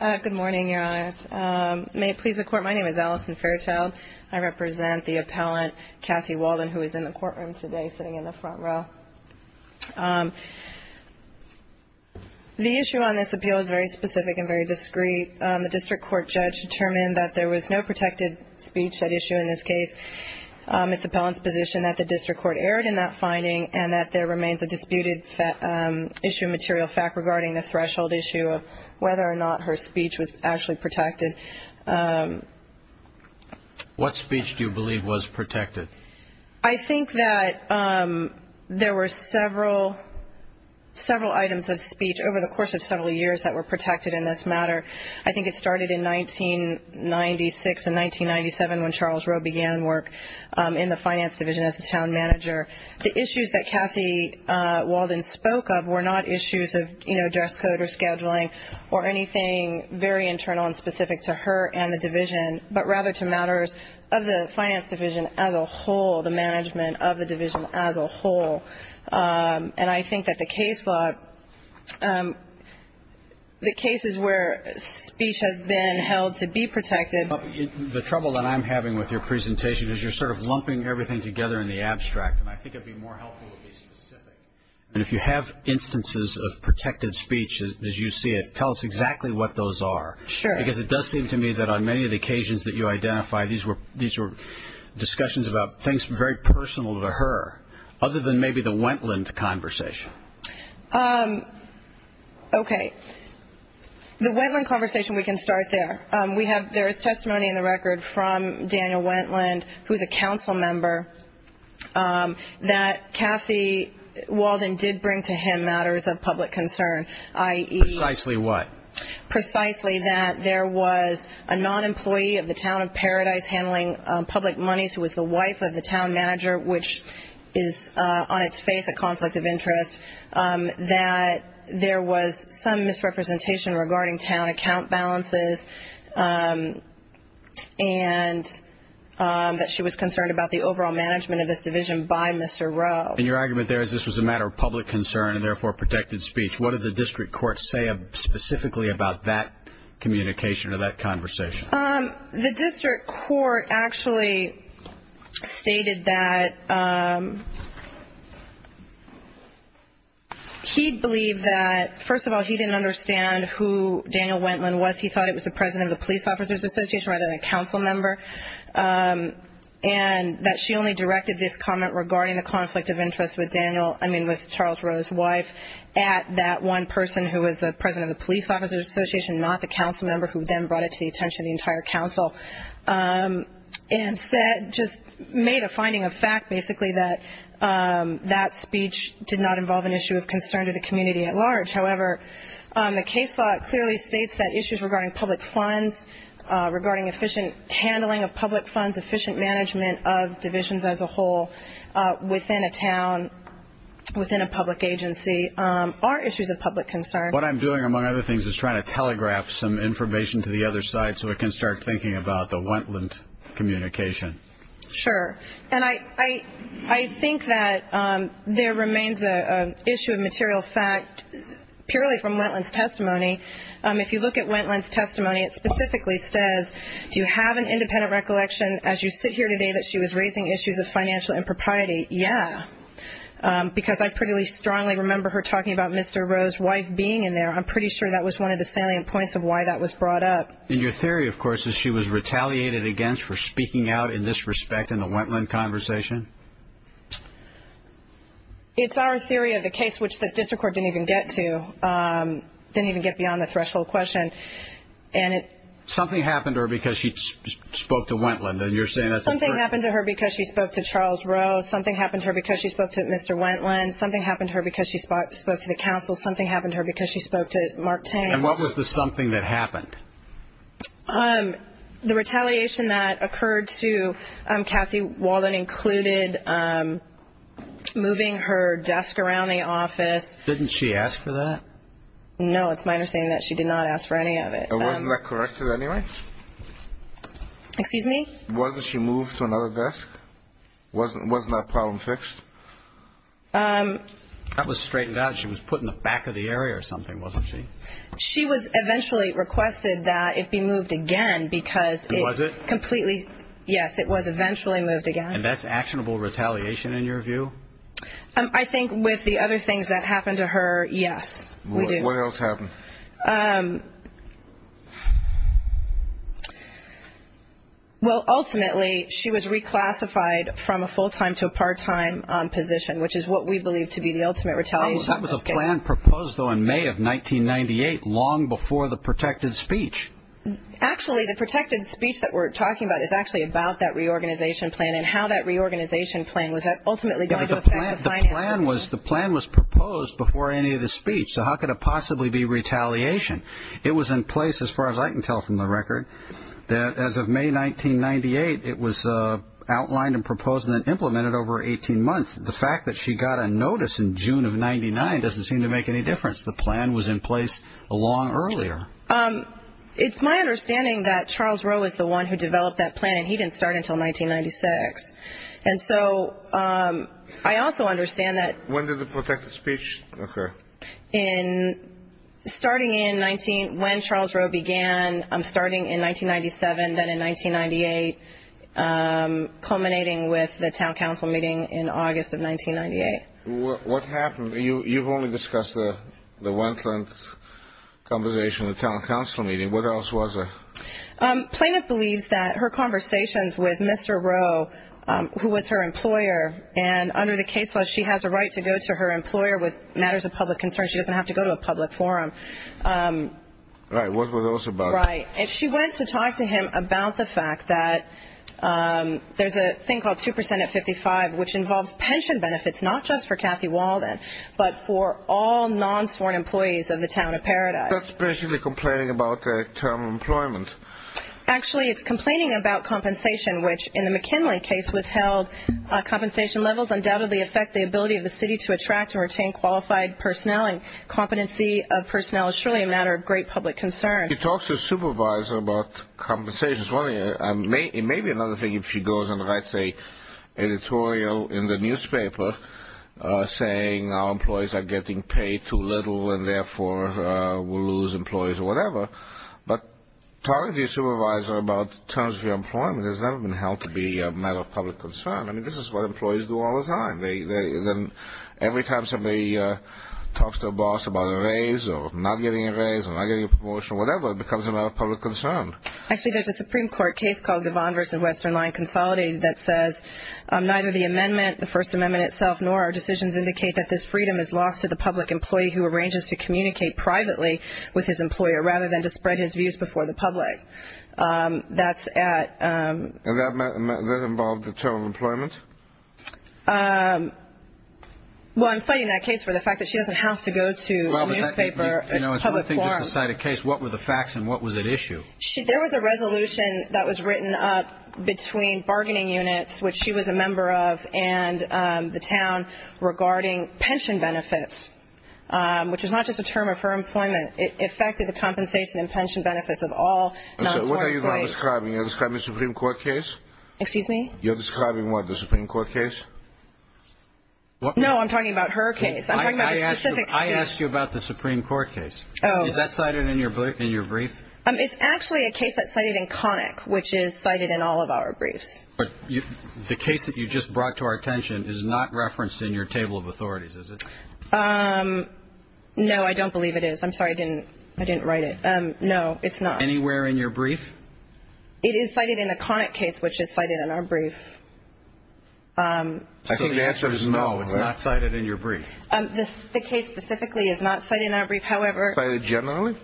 Good morning, Your Honors. May it please the Court, my name is Allison Fairchild. I represent the appellant, Kathy Walden, who is in the courtroom today, sitting in the front row. The issue on this appeal is very specific and very discreet. The district court judge determined that there was no protected speech at issue in this case. It's appellant's position that the district court erred in that finding and that there remains a disputed issue of material fact regarding the threshold issue of whether or not her speech was actually protected. What speech do you believe was protected? I think that there were several items of speech over the course of several years that were protected in this matter. I think it started in 1996 and 1997 when Charles Rowe began work in the finance division as the town manager. The issues that Kathy Walden spoke of were not issues of dress code or scheduling or anything very internal and specific to her and the division, but rather to matters of the finance division as a whole, the management of the division as a whole. And I think that the case law, the cases where speech has been held to be protected The trouble that I'm having with your presentation is you're sort of lumping everything together in the abstract, and I think it would be more helpful to be specific. And if you have instances of protected speech as you see it, tell us exactly what those are. Because it does seem to me that on many of the occasions that you identify, these were discussions about things very personal to her, other than maybe the Wendland conversation. Okay. The Wendland conversation, we can start there. There is testimony in the record from Daniel Wendland, who is a council member, that Kathy Walden did bring to him matters of public concern, i.e. Precisely what? That there was some misrepresentation regarding town account balances, and that she was concerned about the overall management of this division by Mr. Rowe. And your argument there is this was a matter of public concern and therefore protected speech. What did the district court say specifically about that communication or that conversation? The district court actually stated that he believed that, first of all, he didn't understand who Daniel Wendland was. He thought it was the president of the Police Officers Association rather than a council member. And that she only directed this comment regarding the conflict of interest with Daniel, I mean with Charles Rowe's wife, at that one person who was the president of the Police Officers Association, not the council member, who then brought it to the attention of the entire council. And said, just made a finding of fact, basically, that that speech did not involve an issue of concern to the community at large. However, the case law clearly states that issues regarding public funds, regarding efficient handling of public funds, efficient management of divisions as a whole within a town, within a public agency, are issues of public concern. What I'm doing, among other things, is trying to telegraph some information to the other side so it can start thinking about the Wendland communication. Sure. And I think that there remains an issue of material fact purely from Wendland's testimony. If you look at Wendland's testimony, it specifically says, do you have an independent recollection as you sit here today that she was raising issues of financial impropriety? Yeah. Because I pretty strongly remember her talking about Mr. Rowe's wife being in there. I'm pretty sure that was one of the salient points of why that was brought up. And your theory, of course, is she was retaliated against for speaking out in this respect in the Wendland conversation? It's our theory of the case, which the district court didn't even get to, didn't even get beyond the threshold question. Something happened to her because she spoke to Wendland, and you're saying that's a truth? Something happened to her because she spoke to Charles Rowe. Something happened to her because she spoke to Mr. Wendland. Something happened to her because she spoke to the council. Something happened to her because she spoke to Mark Tain. And what was the something that happened? The retaliation that occurred to Kathy Walden included moving her desk around the office. Didn't she ask for that? No, it's my understanding that she did not ask for any of it. And wasn't that corrected anyway? Excuse me? Wasn't she moved to another desk? Wasn't that problem fixed? That was straightened out. She was put in the back of the area or something, wasn't she? She was eventually requested that it be moved again because it completely, yes, it was eventually moved again. And that's actionable retaliation in your view? I think with the other things that happened to her, yes, we do. What else happened? Well, ultimately, she was reclassified from a full-time to a part-time position, which is what we believe to be the ultimate retaliation. That was a plan proposed, though, in May of 1998, long before the protected speech. Actually, the protected speech that we're talking about is actually about that reorganization plan and how that reorganization plan was ultimately going to affect the financing. The plan was proposed before any of the speech, so how could it possibly be retaliation? It was in place, as far as I can tell from the record, that as of May 1998, it was outlined and proposed and then implemented over 18 months. The fact that she got a notice in June of 1999 doesn't seem to make any difference. The plan was in place a long earlier. It's my understanding that Charles Rowe is the one who developed that plan, and he didn't start until 1996. And so I also understand that. When did the protected speech occur? Starting in 19 ñ when Charles Rowe began, starting in 1997, then in 1998, culminating with the town council meeting in August of 1998. What happened? You've only discussed the one-tenth conversation in the town council meeting. What else was there? Planoff believes that her conversations with Mr. Rowe, who was her employer, and under the case law, she has a right to go to her employer with matters of public concern. She doesn't have to go to a public forum. Right. What were those about? Right. And she went to talk to him about the fact that there's a thing called 2% at 55, which involves pension benefits not just for Kathy Walden, but for all non-sworn employees of the town of Paradise. That's basically complaining about term employment. Actually, it's complaining about compensation, which in the McKinley case was held. Compensation levels undoubtedly affect the ability of the city to attract and retain qualified personnel, and competency of personnel is surely a matter of great public concern. She talks to a supervisor about compensation. It may be another thing if she goes and writes an editorial in the newspaper saying our employees are getting paid too little and therefore will lose employees or whatever. But talking to your supervisor about terms of your employment has never been held to be a matter of public concern. I mean, this is what employees do all the time. Every time somebody talks to a boss about a raise or not getting a raise or not getting a promotion or whatever, it becomes a matter of public concern. Actually, there's a Supreme Court case called Devon v. Western Line Consolidated that says neither the amendment, the First Amendment itself, nor our decisions indicate that this freedom is lost to the public employee who arranges to communicate privately with his employer rather than to spread his views before the public. And that involved the term of employment? Well, I'm citing that case for the fact that she doesn't have to go to a newspaper, a public forum. It's one thing to cite a case. What were the facts and what was at issue? There was a resolution that was written up between bargaining units, which she was a member of, and the town regarding pension benefits, which is not just a term of her employment. It affected the compensation and pension benefits of all non-employees. What are you describing? You're describing a Supreme Court case? Excuse me? You're describing what, the Supreme Court case? No, I'm talking about her case. I'm talking about a specific case. I asked you about the Supreme Court case. Is that cited in your brief? It's actually a case that's cited in Connick, which is cited in all of our briefs. But the case that you just brought to our attention is not referenced in your table of authorities, is it? No, I don't believe it is. I'm sorry, I didn't write it. No, it's not. Anywhere in your brief? It is cited in a Connick case, which is cited in our brief. So the answer is no, it's not cited in your brief? The case specifically is not cited in our brief. Cited generally?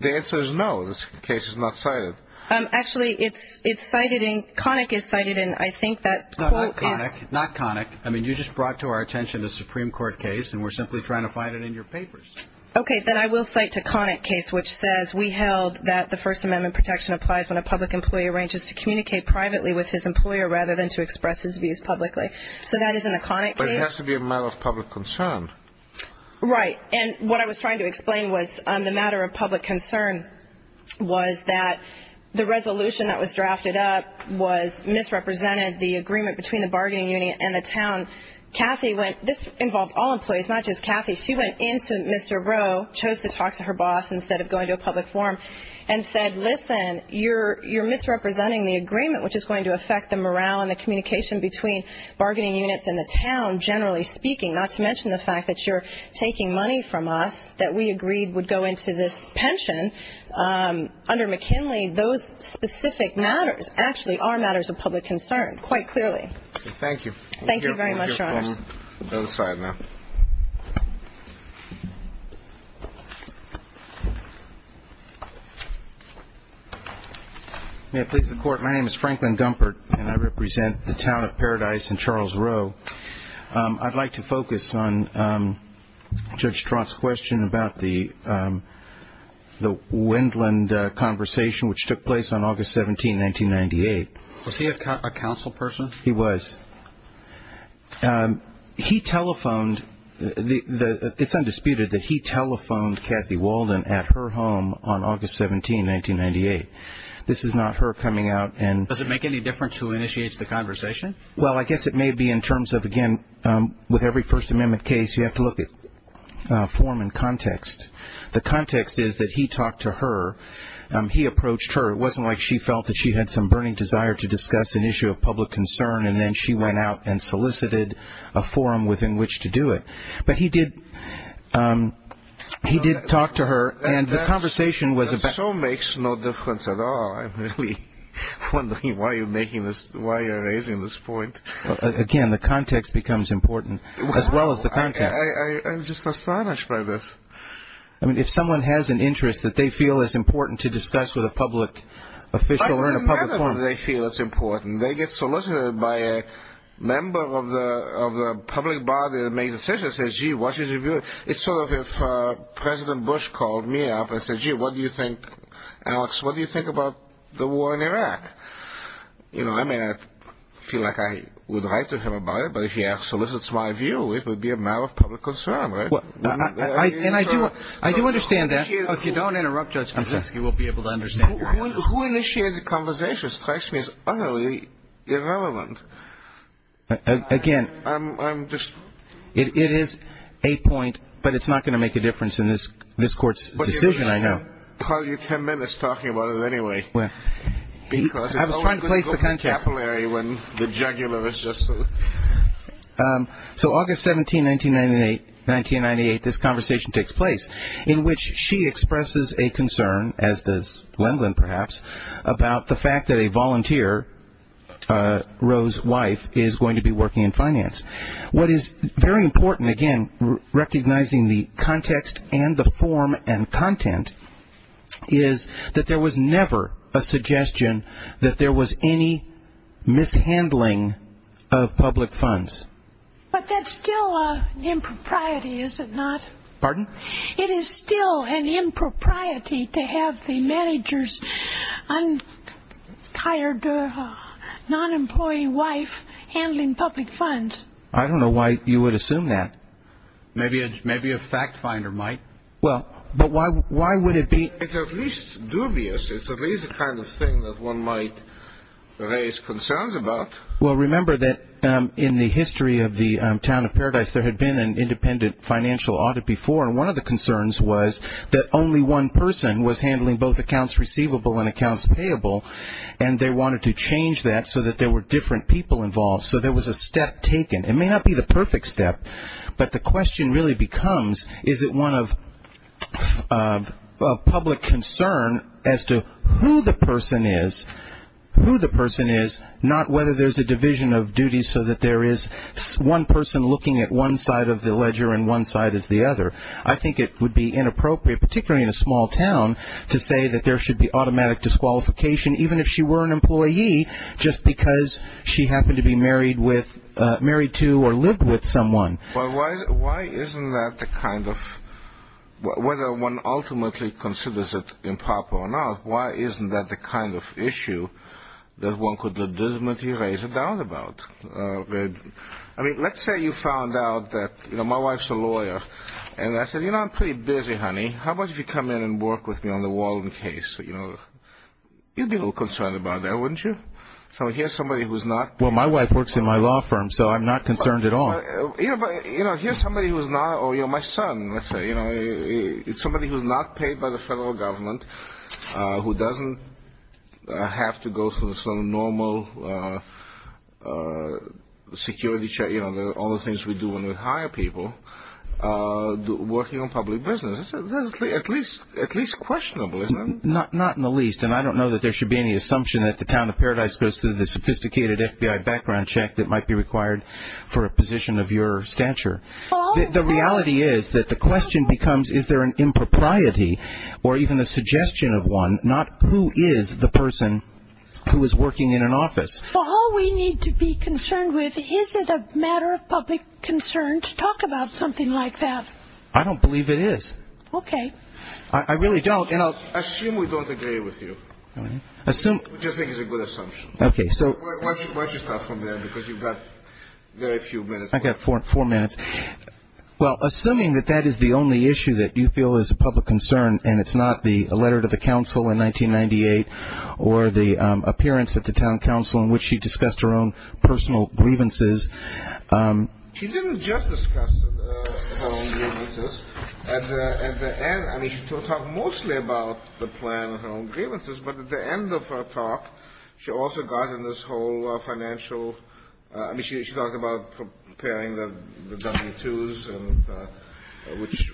The answer is no, this case is not cited. Actually, it's cited in, Connick is cited in, I think that quote is. Not Connick. I mean, you just brought to our attention a Supreme Court case, and we're simply trying to find it in your papers. Okay, then I will cite a Connick case, which says, we held that the First Amendment protection applies when a public employee arranges to communicate privately with his employer rather than to express his views publicly. So that is in a Connick case. But it has to be a matter of public concern. Right. And what I was trying to explain was the matter of public concern was that the resolution that was drafted up was misrepresented the agreement between the bargaining unit and the town. Kathy went, this involved all employees, not just Kathy. She went in to Mr. Rowe, chose to talk to her boss instead of going to a public forum, which is going to affect the morale and the communication between bargaining units and the town, generally speaking, not to mention the fact that you're taking money from us that we agreed would go into this pension. Under McKinley, those specific matters actually are matters of public concern, quite clearly. Thank you. Thank you very much, Your Honors. The other side now. May it please the Court. My name is Franklin Gumpert, and I represent the town of Paradise in Charles Rowe. I'd like to focus on Judge Trott's question about the Wendland conversation, which took place on August 17, 1998. Was he a council person? He was. He telephoned, it's undisputed that he telephoned Kathy Walden at her home on August 17, 1998. This is not her coming out. Does it make any difference who initiates the conversation? Well, I guess it may be in terms of, again, with every First Amendment case, you have to look at form and context. The context is that he talked to her. He approached her. It wasn't like she felt that she had some burning desire to discuss an issue of public concern, and then she went out and solicited a forum within which to do it. But he did talk to her, and the conversation was about – That so makes no difference at all. I'm really wondering why you're making this, why you're raising this point. Again, the context becomes important, as well as the content. I'm just astonished by this. I mean, if someone has an interest that they feel is important to discuss with a public official or in a public forum. They feel it's important. They get solicited by a member of the public body that made the decision and says, gee, why should you do it? It's sort of if President Bush called me up and said, gee, what do you think, Alex, what do you think about the war in Iraq? I mean, I feel like I would write to him about it, but if he solicits my view, it would be a matter of public concern, right? And I do understand that. If you don't interrupt, Judge Kaczynski, we'll be able to understand your answers. Who initiated the conversation strikes me as utterly irrelevant. Again, it is a point, but it's not going to make a difference in this Court's decision, I know. I'll call you ten minutes talking about it anyway. I was trying to place the context. Because it's only going to go capillary when the jugular is just – So August 17, 1998, this conversation takes place in which she expresses a concern, as does Lenglen perhaps, about the fact that a volunteer, Roe's wife, is going to be working in finance. What is very important, again, recognizing the context and the form and content, is that there was never a suggestion that there was any mishandling of public funds. But that's still an impropriety, is it not? Pardon? It is still an impropriety to have the manager's unhired, non-employee wife handling public funds. I don't know why you would assume that. Maybe a fact finder might. Well, but why would it be – It's at least dubious. It's at least the kind of thing that one might raise concerns about. Well, remember that in the history of the town of Paradise, there had been an independent financial audit before, and one of the concerns was that only one person was handling both accounts receivable and accounts payable, and they wanted to change that so that there were different people involved. So there was a step taken. It may not be the perfect step, but the question really becomes, is it one of public concern as to who the person is, who the person is, not whether there's a division of duty so that there is one person looking at one side of the ledger and one side is the other. I think it would be inappropriate, particularly in a small town, to say that there should be automatic disqualification, even if she were an employee, just because she happened to be married to or lived with someone. Well, why isn't that the kind of – whether one ultimately considers it improper or not, why isn't that the kind of issue that one could legitimately raise a doubt about? I mean, let's say you found out that, you know, my wife's a lawyer, and I said, you know, I'm pretty busy, honey. How about if you come in and work with me on the Wallen case? You'd be a little concerned about that, wouldn't you? So here's somebody who's not – Well, my wife works in my law firm, so I'm not concerned at all. Here's somebody who's not – or my son, let's say, somebody who's not paid by the federal government, who doesn't have to go through some normal security check, you know, all the things we do when we hire people, working on public business. That's at least questionable, isn't it? Not in the least. And I don't know that there should be any assumption that the town of Paradise goes through the sophisticated FBI background check that might be required for a position of your stature. The reality is that the question becomes, is there an impropriety or even a suggestion of one, not who is the person who is working in an office. All we need to be concerned with, is it a matter of public concern to talk about something like that? I don't believe it is. Okay. I really don't, and I'll – Assume we don't agree with you. Assume – We just think it's a good assumption. Okay, so – Why don't you start from there, because you've got very few minutes left. I've got four minutes. Well, assuming that that is the only issue that you feel is a public concern and it's not the letter to the council in 1998 or the appearance at the town council in which she discussed her own personal grievances. She didn't just discuss her own grievances. At the end, I mean, she talked mostly about the plan and her own grievances, but at the end of her talk, she also got in this whole financial – I mean, she talked about preparing the W-2s,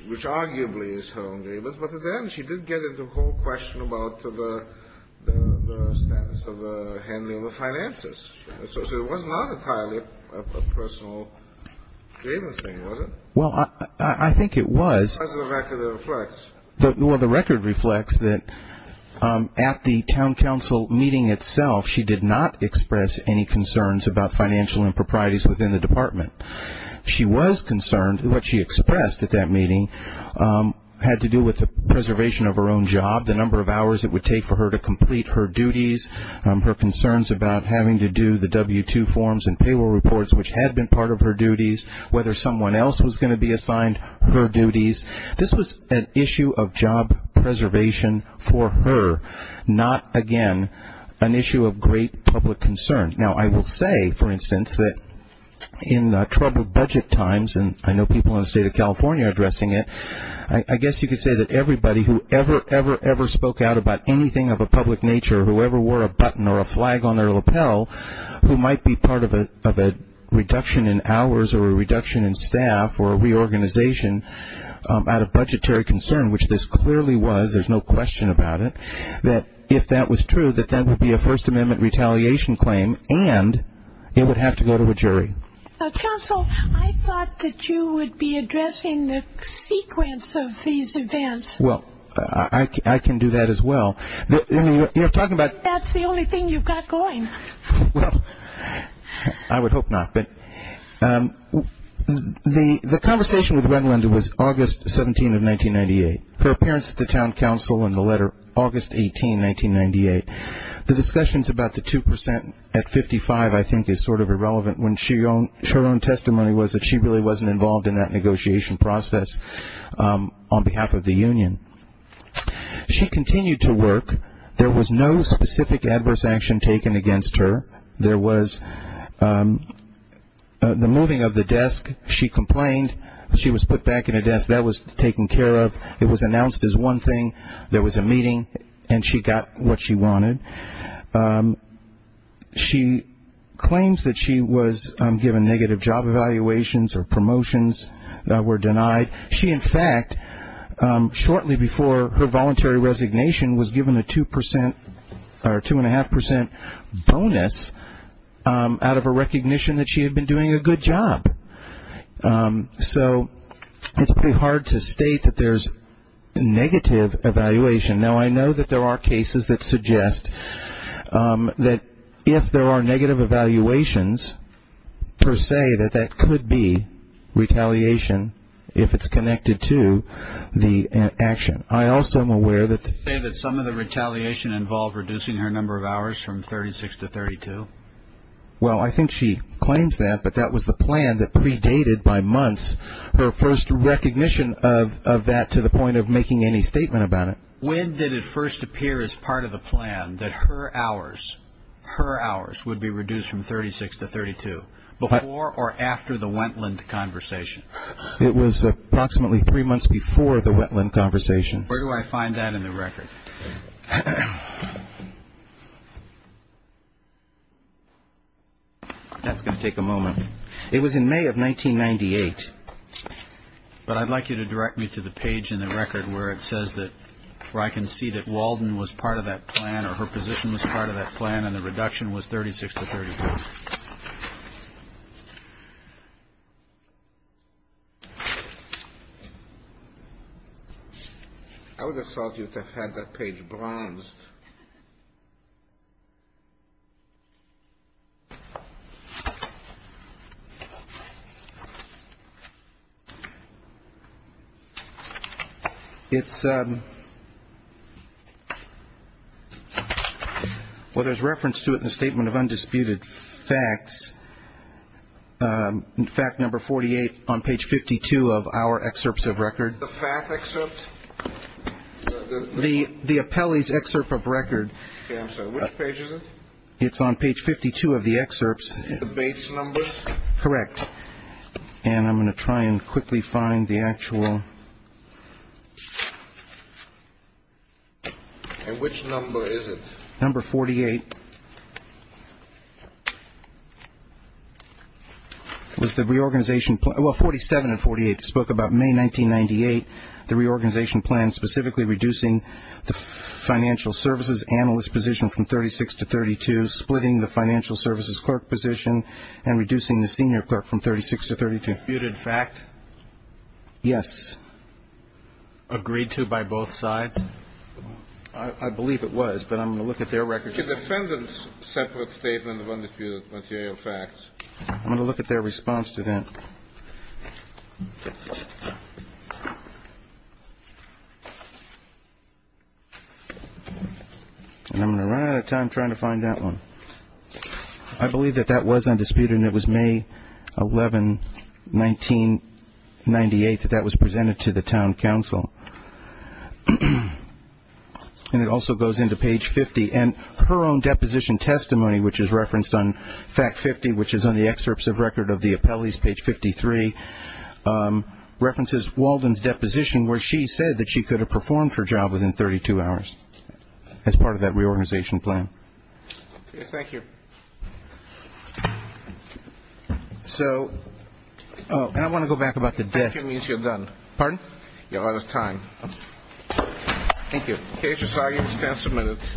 which arguably is her own grievance, but at the end, she did get into the whole question about the status of handling the finances. So it was not entirely a personal grievance thing, was it? Well, I think it was. As the record reflects. Well, the record reflects that at the town council meeting itself, she did not express any concerns about financial improprieties within the department. She was concerned. What she expressed at that meeting had to do with the preservation of her own job, the number of hours it would take for her to complete her duties, her concerns about having to do the W-2 forms and payroll reports, which had been part of her duties, whether someone else was going to be assigned her duties. This was an issue of job preservation for her, not, again, an issue of great public concern. Now, I will say, for instance, that in troubled budget times, and I know people in the state of California are addressing it, I guess you could say that everybody who ever, ever, ever spoke out about anything of a public nature, whoever wore a button or a flag on their lapel who might be part of a reduction in hours or a reduction in staff or a reorganization out of budgetary concern, which this clearly was, there's no question about it, that if that was true, that that would be a First Amendment retaliation claim and it would have to go to a jury. Now, council, I thought that you would be addressing the sequence of these events. Well, I can do that as well. You're talking about That's the only thing you've got going. Well, I would hope not. But the conversation with Gwen Linder was August 17 of 1998, her appearance at the town council in the letter August 18, 1998. The discussions about the 2% at 55, I think, is sort of irrelevant, when her own testimony was that she really wasn't involved in that negotiation process on behalf of the union. She continued to work. There was no specific adverse action taken against her. There was the moving of the desk. She complained. She was put back in a desk. That was taken care of. It was announced as one thing. There was a meeting, and she got what she wanted. She claims that she was given negative job evaluations or promotions that were denied. She, in fact, shortly before her voluntary resignation, was given a 2% or 2.5% bonus out of a recognition that she had been doing a good job. So it's pretty hard to state that there's negative evaluation. Now, I know that there are cases that suggest that if there are negative evaluations, per se, that that could be retaliation if it's connected to the action. I also am aware that the Did she say that some of the retaliation involved reducing her number of hours from 36 to 32? Well, I think she claims that, but that was the plan that predated, by months, her first recognition of that to the point of making any statement about it. When did it first appear as part of the plan that her hours would be reduced from 36 to 32? Before or after the Wendlandt conversation? It was approximately three months before the Wendlandt conversation. Where do I find that in the record? That's going to take a moment. It was in May of 1998. But I'd like you to direct me to the page in the record where it says that where I can see that Walden was part of that plan or her position was part of that plan and the reduction was 36 to 32. I would have thought you would have had that page bronzed. Well, there's reference to it in the Statement of Undisputed Facts, in fact, number 48 on page 52 of our excerpts of record. The FACT excerpts? The FACT excerpts? Yes. Okay, I'm sorry. Which page is it? It's on page 52 of the excerpts. The base numbers? Correct. And I'm going to try and quickly find the actual. And which number is it? Number 48. It was the reorganization plan. Well, 47 and 48 spoke about May 1998, the reorganization plan specifically reducing the financial services analyst position from 36 to 32, splitting the financial services clerk position and reducing the senior clerk from 36 to 32. Undisputed fact? Yes. Agreed to by both sides? I believe it was, but I'm going to look at their record. It's a separate statement of undisputed material facts. I'm going to look at their response to that. And I'm going to run out of time trying to find that one. I believe that that was undisputed and it was May 11, 1998, that that was presented to the town council. And it also goes into page 50. And her own deposition testimony, which is referenced on fact 50, which is on the excerpts of record of the appellees, page 53, references Walden's deposition where she said that she could have performed her job within 32 hours as part of that reorganization plan. Thank you. So, and I want to go back about the desk. That means you're done. Pardon? You're out of time. Thank you. KHSI, you have 10 minutes.